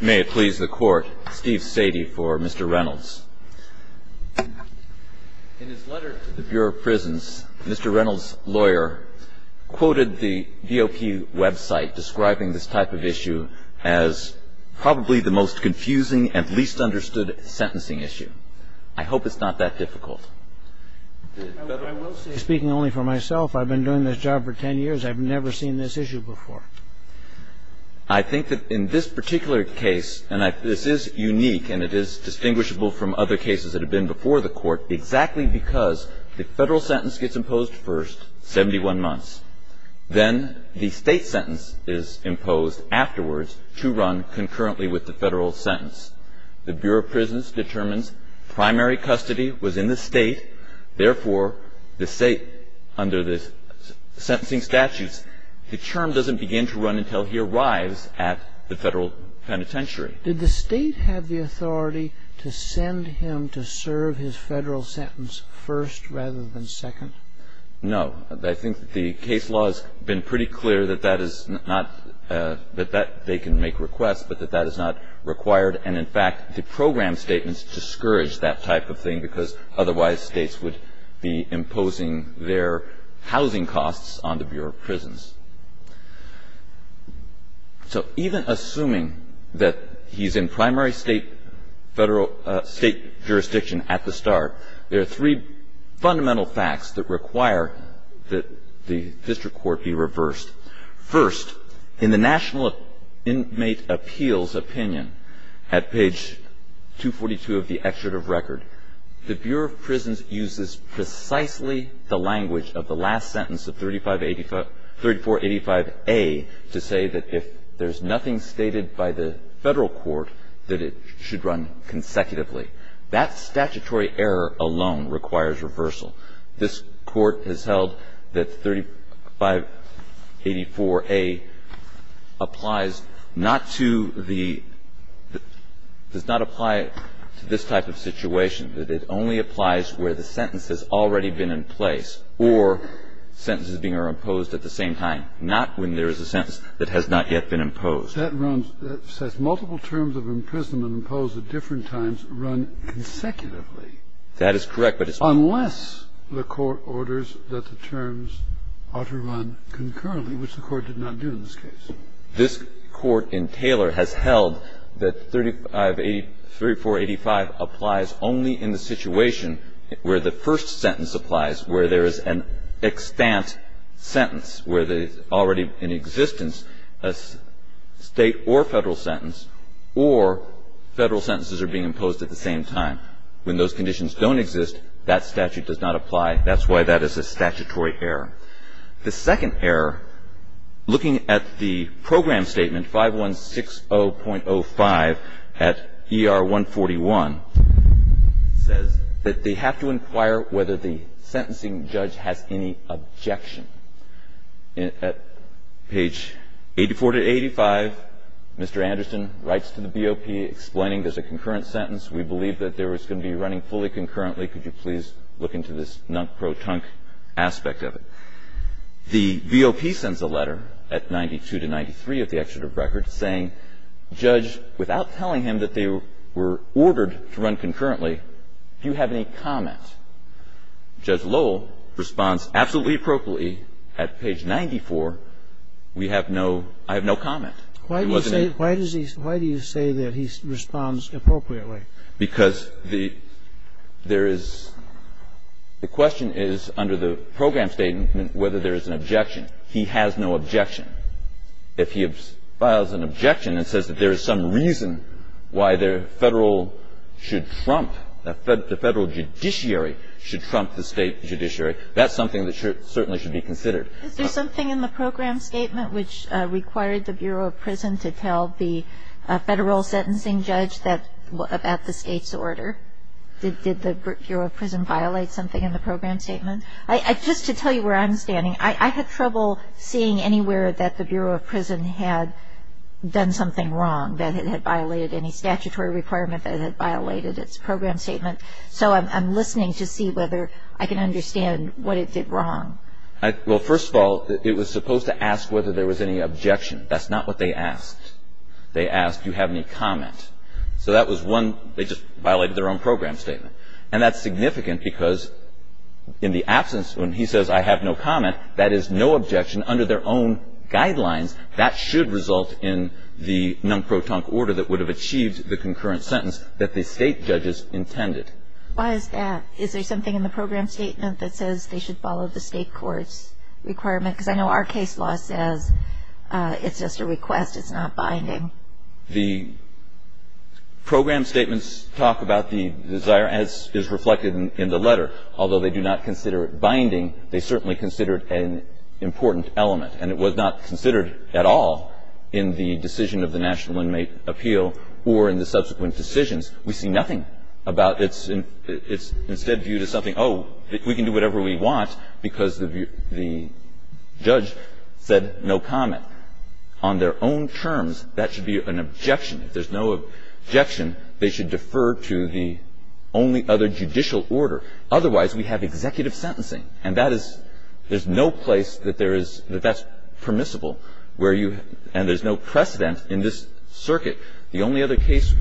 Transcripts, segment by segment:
May it please the Court, Steve Sadie for Mr. Reynolds. In his letter to the Bureau of Prisons, Mr. Reynolds' lawyer quoted the VOP website describing this type of issue as probably the most confusing and least understood sentencing issue. I hope it's not that difficult. I will say, speaking only for myself, I've been doing this job for ten years. I've never seen this issue before. I think that in this particular case, and this is unique and it is distinguishable from other cases that have been before the Court, exactly because the federal sentence gets imposed first, 71 months. Then the state sentence is imposed afterwards to run concurrently with the federal sentence. The Bureau of Prisons determines primary custody was in the state, therefore the state, under the sentencing statutes, the term doesn't begin to run until he arrives at the federal penitentiary. Did the state have the authority to send him to serve his federal sentence first rather than second? No. I think the case law has been pretty clear that that is not, that they can make requests, but that that is not required. And, in fact, the program statements discourage that type of thing because otherwise states would be imposing their housing costs on the Bureau of Prisons. So even assuming that he's in primary state federal, state jurisdiction at the start, there are three fundamental facts that require that the district court be reversed. First, in the National Inmate Appeals opinion at page 242 of the excerpt of record, the Bureau of Prisons uses precisely the language of the last sentence of 3485A to say that if there's nothing stated by the federal court that it should run consecutively. That statutory error alone requires reversal. This Court has held that 3584A applies not to the, does not apply to this type of situation. That it only applies where the sentence has already been in place or sentences being imposed at the same time, not when there is a sentence that has not yet been imposed. That says multiple terms of imprisonment imposed at different times run consecutively. That is correct, but it's not. Unless the court orders that the terms ought to run concurrently, which the court did not do in this case. This Court in Taylor has held that 3485 applies only in the situation where the first sentence applies, where there is an extant sentence, where there is already in existence a state or federal sentence, or federal sentences are being imposed at the same time. When those conditions don't exist, that statute does not apply. That's why that is a statutory error. The second error, looking at the program statement 5160.05 at ER 141, says that they have to inquire whether the sentencing judge has any objection. At page 84 to 85, Mr. Anderson writes to the BOP explaining there's a concurrent sentence, we believe that there is going to be running fully concurrently, could you please look into this pro-tunk aspect of it. The BOP sends a letter at 92 to 93 at the excerpt of record saying, Judge, without telling him that they were ordered to run concurrently, do you have any comment? Judge Lowell responds, absolutely appropriately, at page 94, we have no, I have no comment. It wasn't any comment. Why do you say that he responds appropriately? Because the question is, under the program statement, whether there is an objection. He has no objection. If he files an objection and says that there is some reason why the federal should trump, the federal judiciary should trump the state judiciary, that's something that certainly should be considered. Is there something in the program statement which required the Bureau of Prison to tell the federal sentencing judge about the state's order? Did the Bureau of Prison violate something in the program statement? Just to tell you where I'm standing, I had trouble seeing anywhere that the Bureau of Prison had done something wrong, that it had violated any statutory requirement, that it had violated its program statement. So I'm listening to see whether I can understand what it did wrong. Well, first of all, it was supposed to ask whether there was any objection. That's not what they asked. They asked, do you have any comment? So that was one. They just violated their own program statement. And that's significant because in the absence, when he says, I have no comment, that is no objection under their own guidelines. That should result in the non-protunct order that would have achieved the concurrent sentence that the state judges intended. Why is that? Is there something in the program statement that says they should follow the state court's requirement? Because I know our case law says it's just a request. It's not binding. The program statements talk about the desire, as is reflected in the letter. Although they do not consider it binding, they certainly consider it an important element. And it was not considered at all in the decision of the National Inmate Appeal or in the subsequent decisions. We see nothing about it. It's instead viewed as something, oh, we can do whatever we want, because the judge said no comment. On their own terms, that should be an objection. If there's no objection, they should defer to the only other judicial order. Otherwise, we have executive sentencing. And that is, there's no place that there is, that that's permissible where you, and there's no precedent in this circuit. The only other case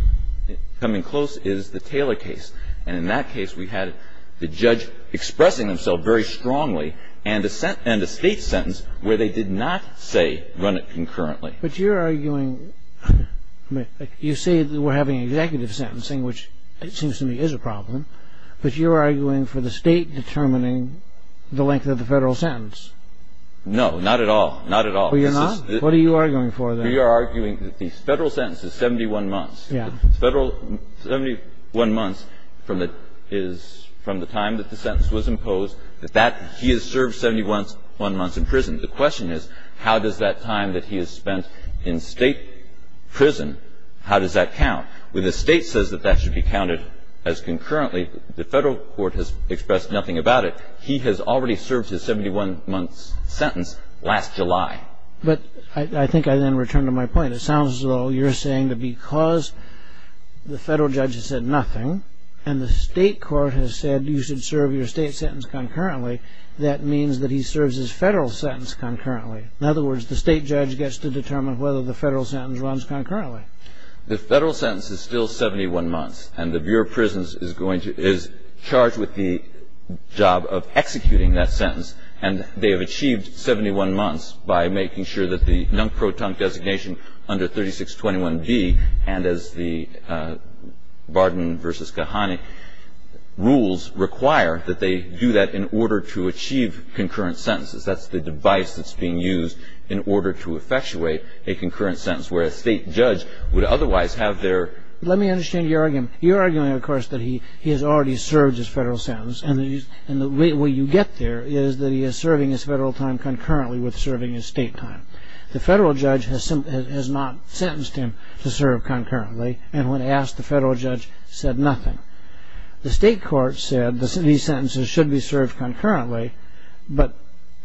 coming close is the Taylor case. And in that case, we had the judge expressing himself very strongly and a state sentence where they did not say run it concurrently. But you're arguing, you say that we're having executive sentencing, which it seems to me is a problem, but you're arguing for the state determining the length of the federal sentence. No, not at all. Not at all. Well, you're not? What are you arguing for, then? We are arguing that the federal sentence is 71 months. Yeah. The federal 71 months from the time that the sentence was imposed, that he has served 71 months in prison. The question is, how does that time that he has spent in state prison, how does that count? When the state says that that should be counted as concurrently, the federal court has expressed nothing about it. He has already served his 71-month sentence last July. But I think I then return to my point. It sounds as though you're saying that because the federal judge has said nothing and the state court has said you should serve your state sentence concurrently, that means that he serves his federal sentence concurrently. In other words, the state judge gets to determine whether the federal sentence runs concurrently. The federal sentence is still 71 months. And the Bureau of Prisons is going to, is charged with the job of executing that sentence. And they have achieved 71 months by making sure that the non-proton designation under 3621B and as the Barden v. Kahane rules require that they do that in order to achieve concurrent sentences. That's the device that's being used in order to effectuate a concurrent sentence where a state judge would otherwise have their... Let me understand your argument. You're arguing, of course, that he has already served his federal sentence. And the way you get there is that he is serving his federal time concurrently with serving his state time. The federal judge has not sentenced him to serve concurrently. And when asked, the federal judge said nothing. The state court said these sentences should be served concurrently. But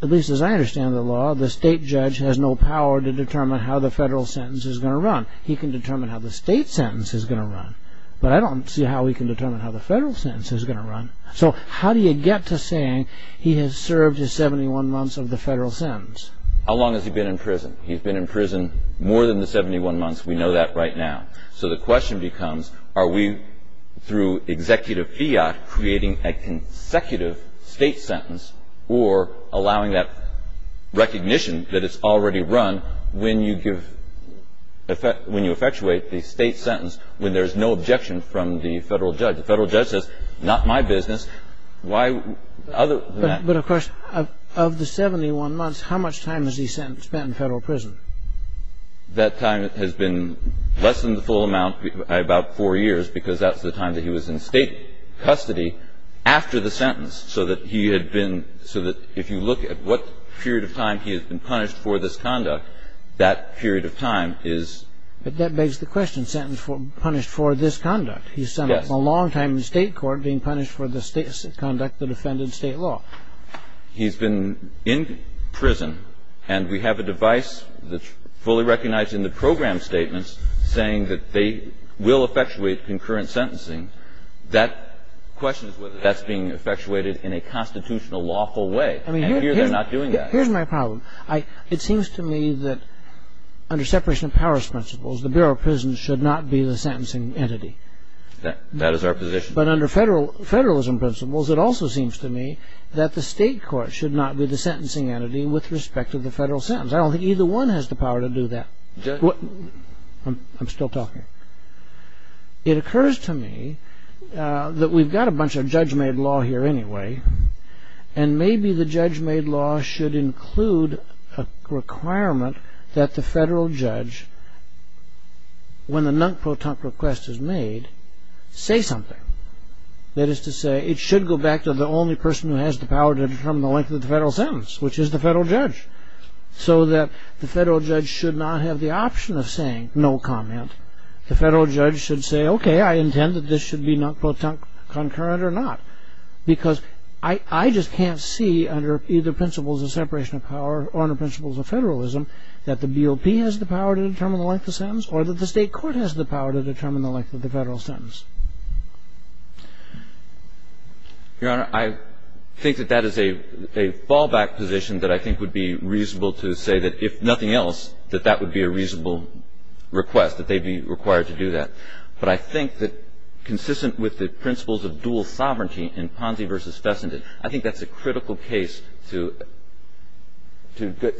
at least as I understand the law, the state judge has no power to determine how the federal sentence is going to run. He can determine how the state sentence is going to run. So how do you get to saying he has served his 71 months of the federal sentence? How long has he been in prison? He's been in prison more than the 71 months. We know that right now. So the question becomes are we, through executive fiat, creating a consecutive state sentence or allowing that recognition that it's already run when you effectuate the state sentence when there's no objection from the federal judge? The federal judge says, not my business. Why other than that? But, of course, of the 71 months, how much time has he spent in federal prison? That time has been less than the full amount, about four years, because that's the time that he was in state custody after the sentence. So that he had been so that if you look at what period of time he had been punished for this conduct, that period of time is But that begs the question, sentenced for punished for this conduct. He spent a long time in state court being punished for this conduct that offended state law. He's been in prison, and we have a device that's fully recognized in the program statements saying that they will effectuate concurrent sentencing. That question is whether that's being effectuated in a constitutional lawful way. And here they're not doing that. Here's my problem. It seems to me that under separation of powers principles, the Bureau of Prisons should not be the sentencing entity. That is our position. But under federalism principles, it also seems to me that the state court should not be the sentencing entity with respect to the federal sentence. I don't think either one has the power to do that. I'm still talking. It occurs to me that we've got a bunch of judge-made law here anyway, and maybe the judge-made law should include a requirement that the federal judge, when the non-protunct request is made, say something. That is to say, it should go back to the only person who has the power to determine the length of the federal sentence, which is the federal judge. So that the federal judge should not have the option of saying no comment. The federal judge should say, okay, I intend that this should be non-protunct concurrent or not. Because I just can't see under either principles of separation of power or under principles of federalism that the BOP has the power to determine the length of the sentence or that the state court has the power to determine the length of the federal sentence. Your Honor, I think that that is a fallback position that I think would be reasonable to say that, if nothing else, that that would be a reasonable request, that they'd be required to do that. But I think that, consistent with the principles of dual sovereignty in Ponzi versus Fessenden, I think that's a critical case to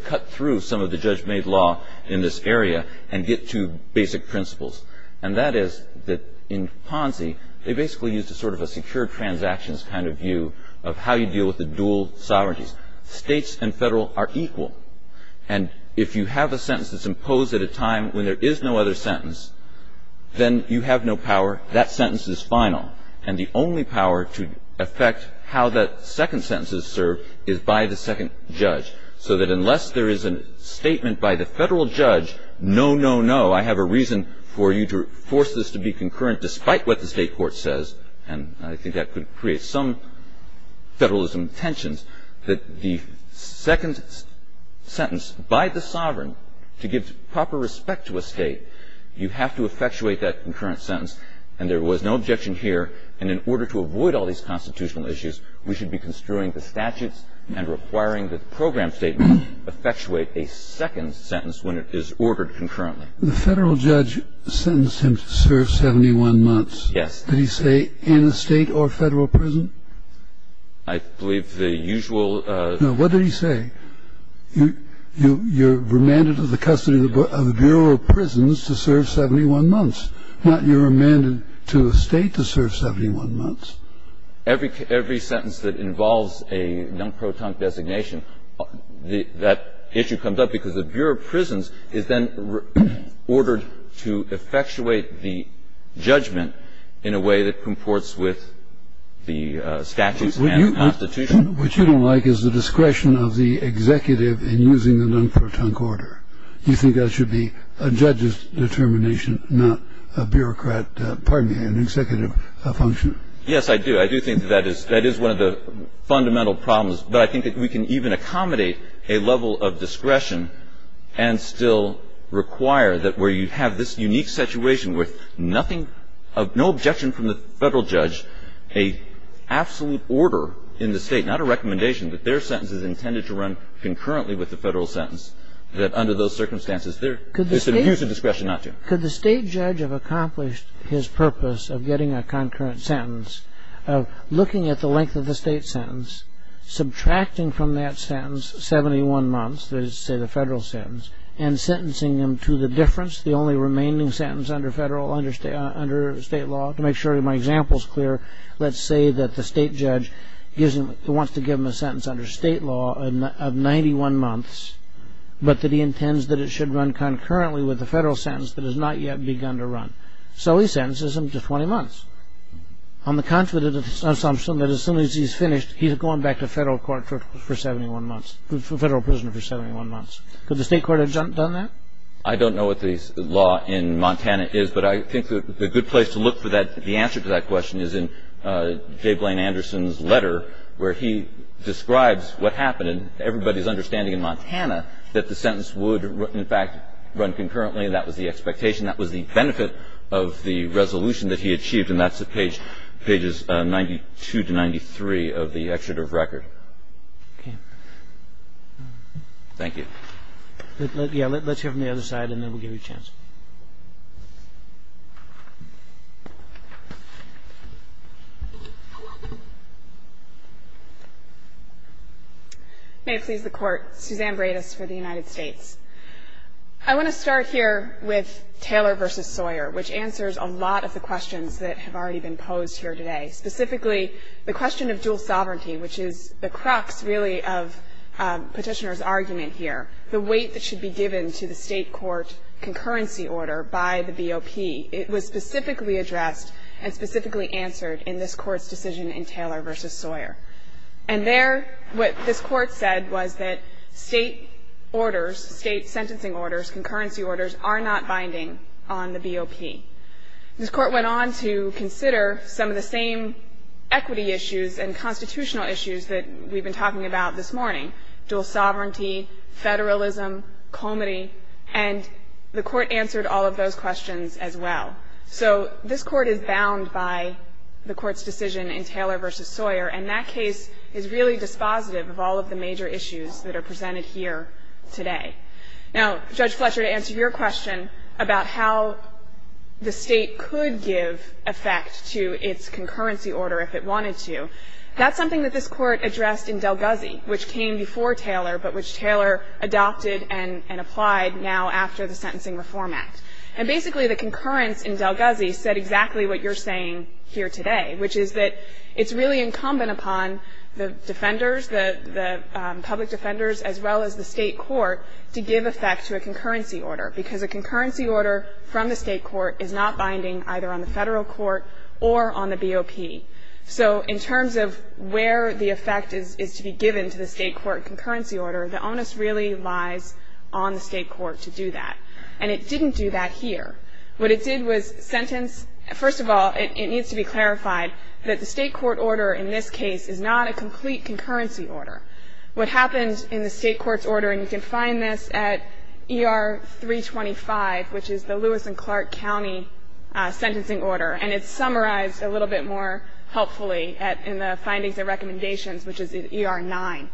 cut through some of the judge-made law in this area and get to basic principles. And that is that, in Ponzi, they basically used a sort of a secure transactions kind of view of how you deal with the dual sovereignties. States and federal are equal. And if you have a sentence that's imposed at a time when there is no other sentence, then you have no power. That sentence is final. And the only power to affect how that second sentence is served is by the second judge. So that unless there is a statement by the federal judge, no, no, no, I have a reason for you to force this to be concurrent despite what the state court says, and I think that could create some federalism tensions, that the second sentence by the sovereign to give proper respect to a state, you have to effectuate that concurrent sentence. And there was no objection here. And in order to avoid all these constitutional issues, we should be construing the statutes and requiring that the program statement effectuate a second sentence when it is ordered concurrently. The federal judge sentenced him to serve 71 months. Yes. Did he say in a state or federal prison? I believe the usual. No. What did he say? You're remanded to the custody of the Bureau of Prisons to serve 71 months, not you're remanded to a state to serve 71 months. Every sentence that involves a non-protunct designation, that issue comes up because the Bureau of Prisons is then ordered to effectuate the judgment in a way that comports with the statutes and the Constitution. What you don't like is the discretion of the executive in using the non-protunct order. Do you think that should be a judge's determination, not a bureaucrat, pardon me, an executive function? Yes, I do. I do think that is one of the fundamental problems. But I think that we can even accommodate a level of discretion and still require that where you have this unique situation with no objection from the federal judge, a absolute order in the state, not a recommendation that their sentence is intended to run concurrently with the federal sentence, that under those circumstances there's an abuse of discretion not to. Could the state judge have accomplished his purpose of getting a concurrent sentence, of looking at the length of the state sentence, subtracting from that sentence 71 months, let's say the federal sentence, and sentencing them to the difference, the only remaining sentence under state law, to make sure my example is clear, let's say that the state judge wants to give them a sentence under state law of 91 months, but that he intends that it should run concurrently with the federal sentence that has not yet begun to run. So he sentences them to 20 months. On the contrary to the assumption that as soon as he's finished, he's going back to federal court for 71 months, federal prison for 71 months. Could the state court have done that? I don't know what the law in Montana is, but I think the good place to look for that, the answer to that question is in J. Blaine Anderson's letter where he describes what happened and everybody's understanding in Montana that the sentence would, in fact, run concurrently. That was the expectation. That was the benefit of the resolution that he achieved, and that's at pages 92 to 93 of the excerpt of record. Thank you. Let's hear from the other side, and then we'll give you a chance. May it please the Court. Suzanne Bredis for the United States. I want to start here with Taylor v. Sawyer, which answers a lot of the questions that have already been posed here today, specifically the question of dual sovereignty, which is the crux, really, of Petitioner's argument here, the weight that should be given to the state court concurrency order by the BOP. It was specifically addressed and specifically answered in this Court's decision in Taylor v. Sawyer. And there, what this Court said was that state orders, state sentencing orders, concurrency orders are not binding on the BOP. This Court went on to consider some of the same equity issues and constitutional issues that we've been talking about this morning, dual sovereignty, federalism, comity, and the Court answered all of those questions as well. So this Court is bound by the Court's decision in Taylor v. Sawyer, and that case is really dispositive of all of the major issues that are presented here today. Now, Judge Fletcher, to answer your question about how the state could give effect to its concurrency order if it wanted to, that's something that this Court addressed in Del Guzzi, which came before Taylor but which Taylor adopted and applied now after the Sentencing Reform Act. And basically, the concurrence in Del Guzzi said exactly what you're saying here today, which is that it's really incumbent upon the defenders, the public defenders as well as the state court, to give effect to a concurrency order because a concurrency order from the state court is not binding either on the federal court or on the BOP. So in terms of where the effect is to be given to the state court concurrency order, the onus really lies on the state court to do that. And it didn't do that here. What it did was sentence, first of all, it needs to be clarified that the state court order in this case is not a complete concurrency order. What happens in the state court's order, and you can find this at ER 325, which is the Lewis and Clark County sentencing order, and it's summarized a little bit more helpfully in the findings and recommendations, which is in ER 9.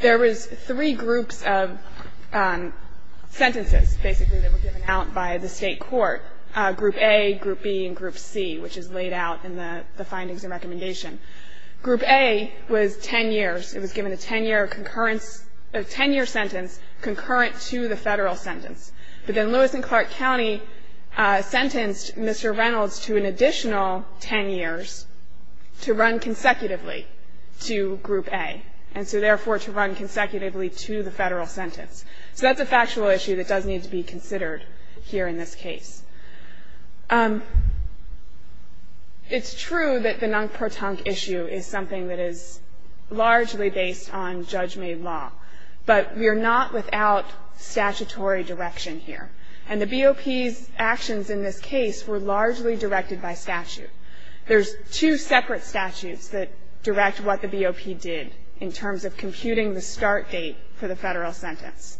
There was three groups of sentences, basically, that were given out by the state court, Group A, Group B, and Group C, which is laid out in the findings and recommendation. Group A was 10 years. It was given a 10-year sentence concurrent to the federal sentence. But then Lewis and Clark County sentenced Mr. Reynolds to an additional 10 years to run consecutively to Group A, and so therefore to run consecutively to the federal sentence. So that's a factual issue that does need to be considered here in this case. It's true that the Nunk-Pro-Tunk issue is something that is largely based on judge-made law, but we are not without statutory direction here, and the BOP's actions in this case were largely directed by statute. There's two separate statutes that direct what the BOP did in terms of computing the start date for the federal sentence.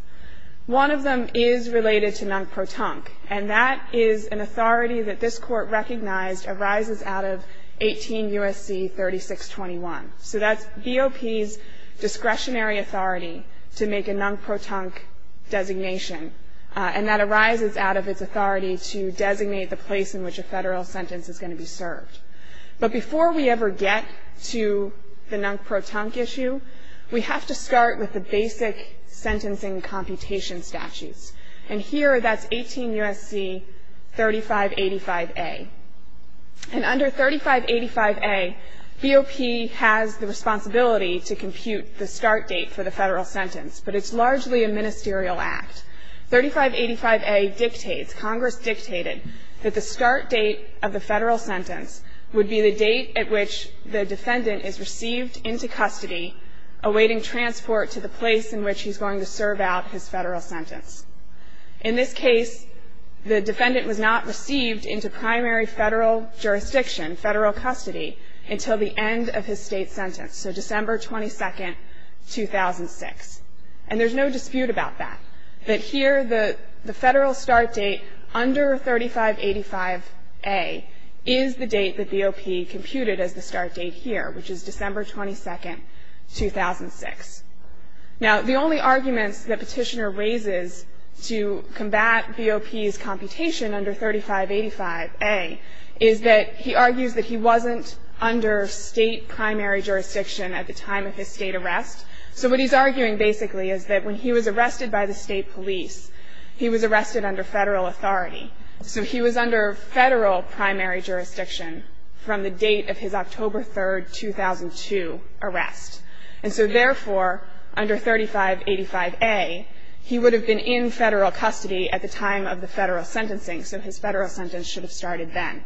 One of them is related to Nunk-Pro-Tunk, and that is an authority that this Court recognized arises out of 18 U.S.C. 3621. So that's BOP's discretionary authority to make a Nunk-Pro-Tunk designation, and that arises out of its authority to designate the place in which a federal sentence is going to be served. But before we ever get to the Nunk-Pro-Tunk issue, we have to start with the basic sentencing computation statutes. And here, that's 18 U.S.C. 3585a. And under 3585a, BOP has the responsibility to compute the start date for the federal sentence, but it's largely a ministerial act. 3585a dictates, Congress dictated, that the start date of the federal sentence would be the date at which the defendant is received into custody, awaiting transport to the place in which he's going to serve out his federal sentence. In this case, the defendant was not received into primary federal jurisdiction, federal custody, until the end of his state sentence, so December 22, 2006. And there's no dispute about that, that here the federal start date under 3585a is the date that BOP computed as the start date here, which is December 22, 2006. Now, the only arguments that Petitioner raises to combat BOP's computation under 3585a is that he argues that he wasn't under state primary jurisdiction at the time of his state arrest. So what he's arguing, basically, is that when he was arrested by the state police, he was arrested under federal authority. So he was under federal primary jurisdiction from the date of his October 3, 2002 arrest. And so, therefore, under 3585a, he would have been in federal custody at the time of the federal sentencing, so his federal sentence should have started then.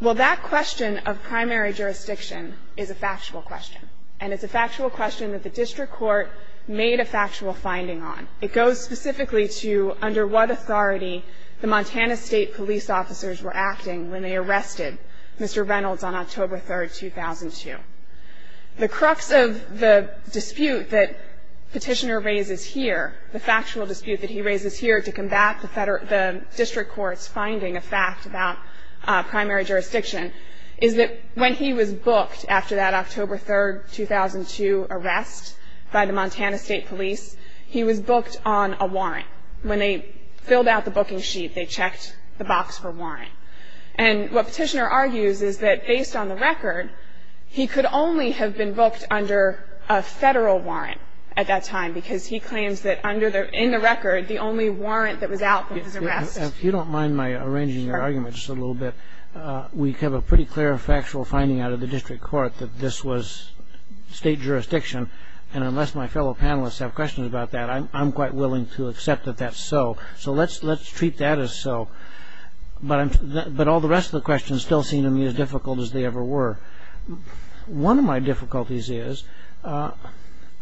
Well, that question of primary jurisdiction is a factual question, and it's a factual question that the district court made a factual finding on. It goes specifically to under what authority the Montana State police officers were acting when they arrested Mr. Reynolds on October 3, 2002. The crux of the dispute that Petitioner raises here, the factual dispute that he raises here to combat the district court's finding, a fact about primary jurisdiction, is that when he was booked after that October 3, 2002 arrest by the Montana State police, he was booked on a warrant. When they filled out the booking sheet, they checked the box for warrant. And what Petitioner argues is that, based on the record, he could only have been booked under a federal warrant at that time because he claims that, in the record, the only warrant that was out was his arrest. If you don't mind my arranging your argument just a little bit, we have a pretty clear and factual finding out of the district court that this was state jurisdiction, and unless my fellow panelists have questions about that, I'm quite willing to accept that that's so. So let's treat that as so. But all the rest of the questions still seem to me as difficult as they ever were. One of my difficulties is I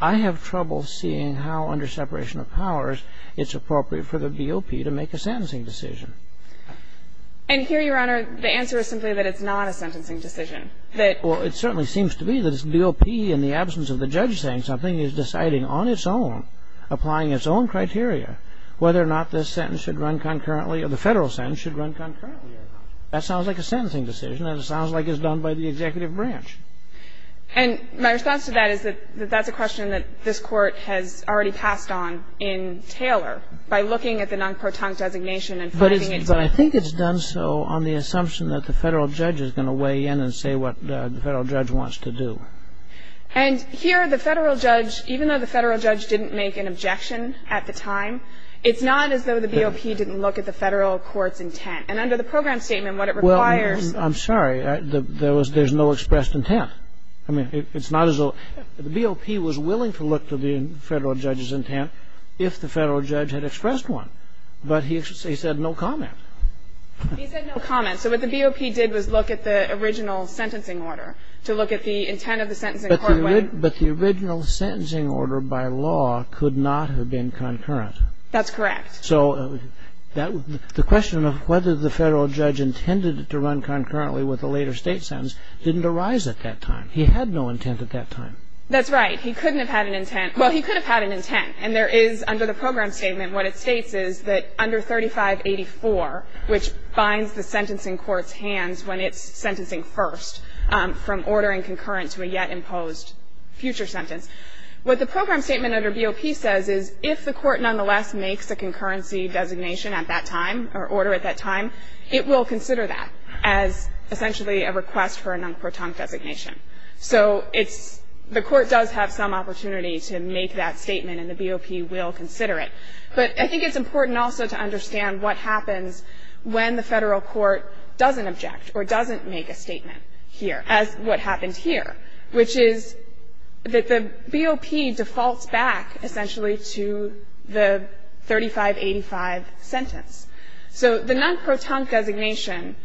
have trouble seeing how, under separation of powers, it's appropriate for the DOP to make a sentencing decision. And here, Your Honor, the answer is simply that it's not a sentencing decision. Well, it certainly seems to me that the DOP, in the absence of the judge saying something, is deciding on its own, applying its own criteria, whether or not this sentence should run concurrently or the federal sentence should run concurrently or not. That sounds like a sentencing decision, and it sounds like it's done by the executive branch. And my response to that is that that's a question that this Court has already passed on in Taylor, by looking at the non-proton designation and finding it. But I think it's done so on the assumption that the federal judge is going to weigh in and say what the federal judge wants to do. And here, the federal judge, even though the federal judge didn't make an objection at the time, it's not as though the DOP didn't look at the federal court's intent. And under the program statement, what it requires... Well, I'm sorry. There's no expressed intent. I mean, it's not as though... The DOP was willing to look to the federal judge's intent if the federal judge had expressed one, but he said no comment. He said no comment. So what the DOP did was look at the original sentencing order to look at the intent of the sentencing court... But the original sentencing order by law could not have been concurrent. That's correct. So the question of whether the federal judge intended to run concurrently with a later state sentence didn't arise at that time. He had no intent at that time. That's right. He couldn't have had an intent. Well, he could have had an intent. And there is, under the program statement, what it states is that under 3584, which binds the sentencing court's hands when it's sentencing first from ordering concurrent to a yet-imposed future sentence, what the program statement under BOP says is if the court nonetheless makes a concurrency designation at that time or order at that time, it will consider that as essentially a request for a non-court-tongue designation. So it's the court does have some opportunity to make that statement, and the BOP will consider it. But I think it's important also to understand what happens when the federal court doesn't object or doesn't make a statement here, as what happened here, which is that the BOP defaults back, essentially, to the 3585 sentence. So the non-court-tongue designation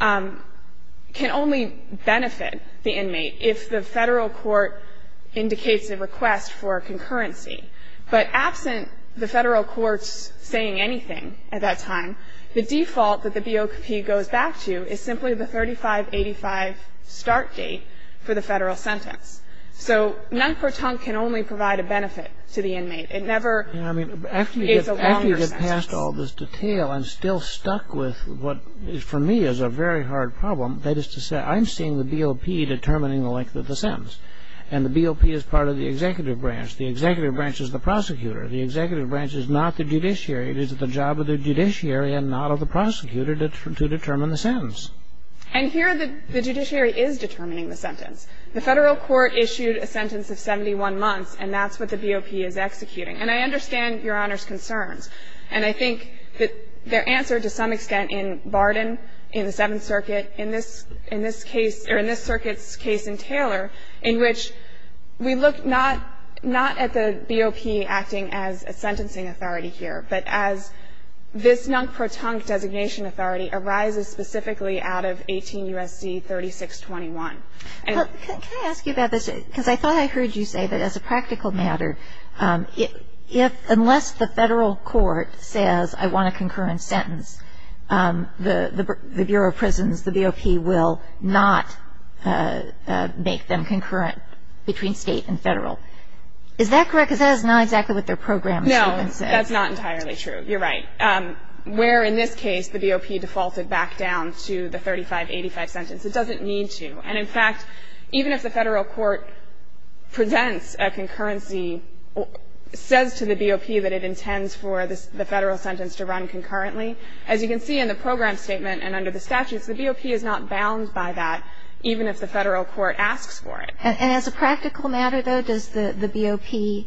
can only benefit the inmate if the federal court indicates a request for a concurrency. But absent the federal court's saying anything at that time, the default that the BOP goes back to is simply the 3585 start date for the federal sentence. So non-court-tongue can only provide a benefit to the inmate. It never is a longer sentence. I mean, after you get past all this detail and still stuck with what for me is a very hard problem, that is to say I'm seeing the BOP determining the length of the sentence, and the BOP is part of the executive branch. The executive branch is the prosecutor. The executive branch is not the judiciary. It is the job of the judiciary and not of the prosecutor to determine the sentence. And here the judiciary is determining the sentence. The federal court issued a sentence of 71 months, and that's what the BOP is executing. And I understand Your Honor's concerns. And I think that their answer to some extent in Barden, in the Seventh Circuit, in this case or in this circuit's case in Taylor, in which we look not at the BOP acting as a sentencing authority here, but as this non-court-tongue designation authority arises specifically out of 18 U.S.C. 3621. Can I ask you about this? Because I thought I heard you say that as a practical matter, unless the federal court says I want a concurrent sentence, the Bureau of Prisons, the BOP, will not make them concurrent between state and federal. Is that correct? Because that is not exactly what their program has even said. No, that's not entirely true. You're right. Where in this case the BOP defaulted back down to the 3585 sentence, it doesn't need to. And in fact, even if the federal court presents a concurrency, says to the BOP that it intends for the federal sentence to run concurrently, as you can see in the program statement and under the statutes, the BOP is not bound by that even if the federal court asks for it. And as a practical matter, though, does the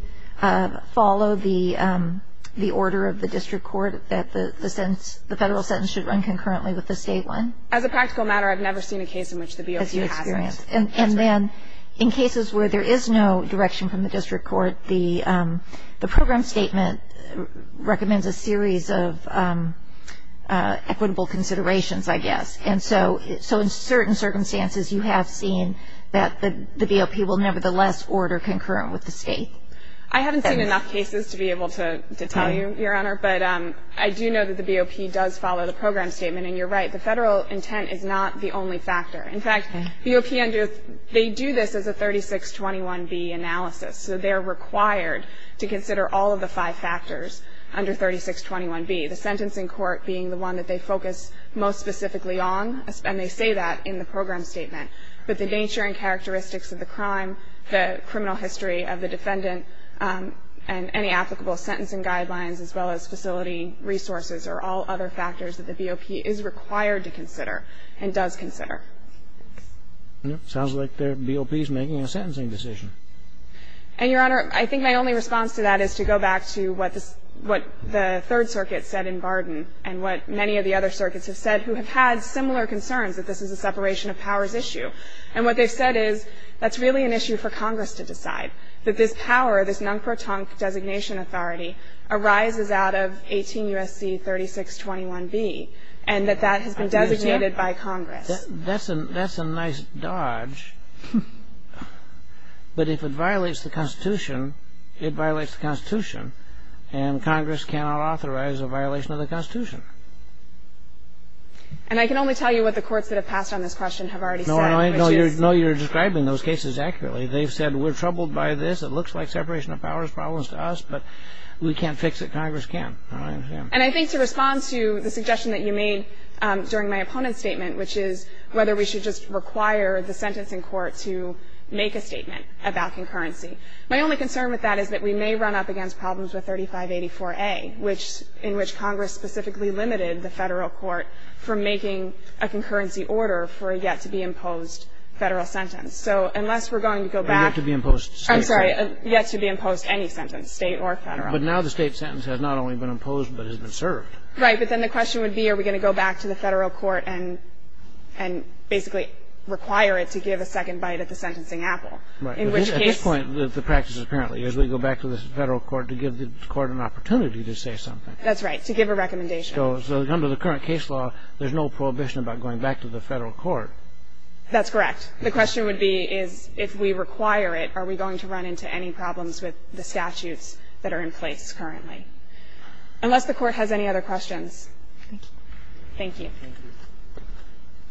BOP follow the order of the district court that the federal sentence should run concurrently with the state one? As a practical matter, I've never seen a case in which the BOP hasn't. And then in cases where there is no direction from the district court, the program statement recommends a series of equitable considerations, I guess. And so in certain circumstances, you have seen that the BOP will nevertheless order concurrent with the state. I haven't seen enough cases to be able to tell you, Your Honor, but I do know that the BOP does follow the program statement. And you're right, the federal intent is not the only factor. In fact, BOP, they do this as a 3621B analysis. So they're required to consider all of the five factors under 3621B, the sentencing court being the one that they focus most specifically on, and they say that in the program statement. But the nature and characteristics of the crime, the criminal history of the defendant, and any applicable sentencing guidelines as well as facility resources are all other factors that the BOP is required to consider and does consider. Sounds like the BOP is making a sentencing decision. And, Your Honor, I think my only response to that is to go back to what the Third Circuit said in Barden and what many of the other circuits have said who have had similar concerns that this is a separation of powers issue. And what they've said is that's really an issue for Congress to decide, that this power, this non-proton designation authority arises out of 18 U.S.C. 3621B and that that has been designated by Congress. That's a nice dodge. But if it violates the Constitution, it violates the Constitution, and Congress cannot authorize a violation of the Constitution. And I can only tell you what the courts that have passed on this question have already said. No, you're describing those cases accurately. They've said we're troubled by this, it looks like separation of powers problems to us, but we can't fix it, Congress can't. And I think to respond to the suggestion that you made during my opponent's statement, which is whether we should just require the sentencing court to make a statement about concurrency, my only concern with that is that we may run up against problems with 3584A, in which Congress specifically limited the federal court from making a concurrency order for a yet-to-be-imposed federal sentence. So unless we're going to go back. And yet-to-be-imposed state sentence. I'm sorry, yet-to-be-imposed any sentence, state or federal. But now the state sentence has not only been imposed, but has been served. Right. But then the question would be are we going to go back to the federal court and basically require it to give a second bite at the sentencing apple. Right. In which case. At this point, the practice apparently is we go back to the federal court to give the court an opportunity to say something. That's right, to give a recommendation. So under the current case law, there's no prohibition about going back to the federal court. That's correct. The question would be is if we require it, are we going to run into any problems with the statutes that are in place currently. Unless the Court has any other questions. Thank you. Thank you. Thank you.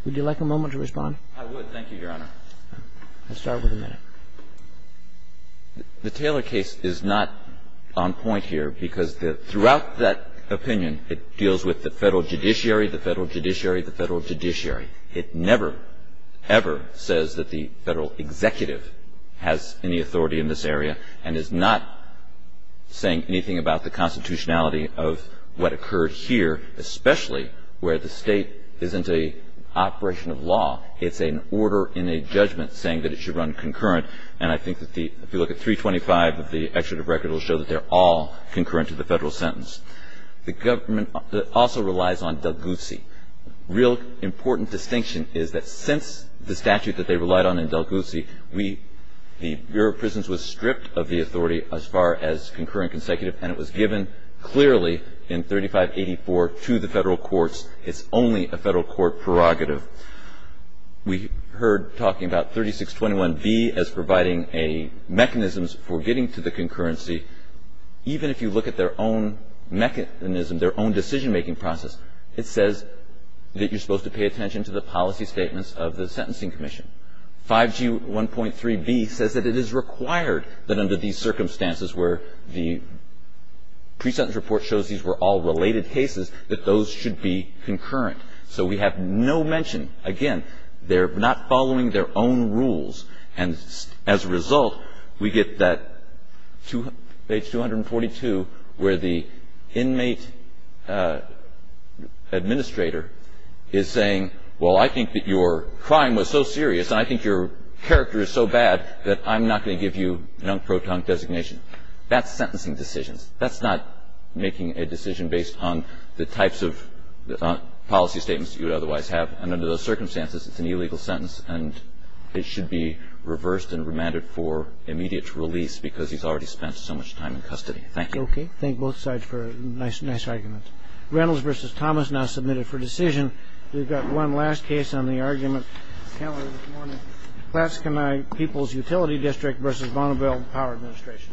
Would you like a moment to respond? I would. Thank you, Your Honor. I'll start with a minute. The Taylor case is not on point here because throughout that opinion, it deals with the federal judiciary, the federal judiciary, the federal judiciary. It never, ever says that the federal executive has any authority in this area and is not saying anything about the constitutionality of what occurred here, especially where the state isn't an operation of law. It's an order in a judgment saying that it should run concurrent. And I think that if you look at 325 of the executive record, it will show that they're all concurrent to the federal sentence. The government also relies on Del Guzzi. A real important distinction is that since the statute that they relied on in Del Guzzi, the Bureau of Prisons was stripped of the authority as far as concurrent consecutive and it was given clearly in 3584 to the federal courts. It's only a federal court prerogative. We heard talking about 3621B as providing a mechanism for getting to the concurrency. Even if you look at their own mechanism, their own decision-making process, it says that you're supposed to pay attention to the policy statements of the sentencing commission. 5G1.3B says that it is required that under these circumstances where the pre-sentence report shows these were all related cases, that those should be concurrent. So we have no mention. Again, they're not following their own rules. And as a result, we get that page 242 where the inmate administrator is saying, well, I think that your crime was so serious and I think your character is so bad that I'm not going to give you an unprotected designation. That's sentencing decisions. That's not making a decision based on the types of policy statements you would otherwise have. And under those circumstances, it's an illegal sentence, and it should be reversed and remanded for immediate release because he's already spent so much time in custody. Thank you. Okay. Thank both sides for a nice argument. Reynolds v. Thomas now submitted for decision. We've got one last case on the argument. The panel this morning. Klaskenheim People's Utility District v. Bonneville Power Administration.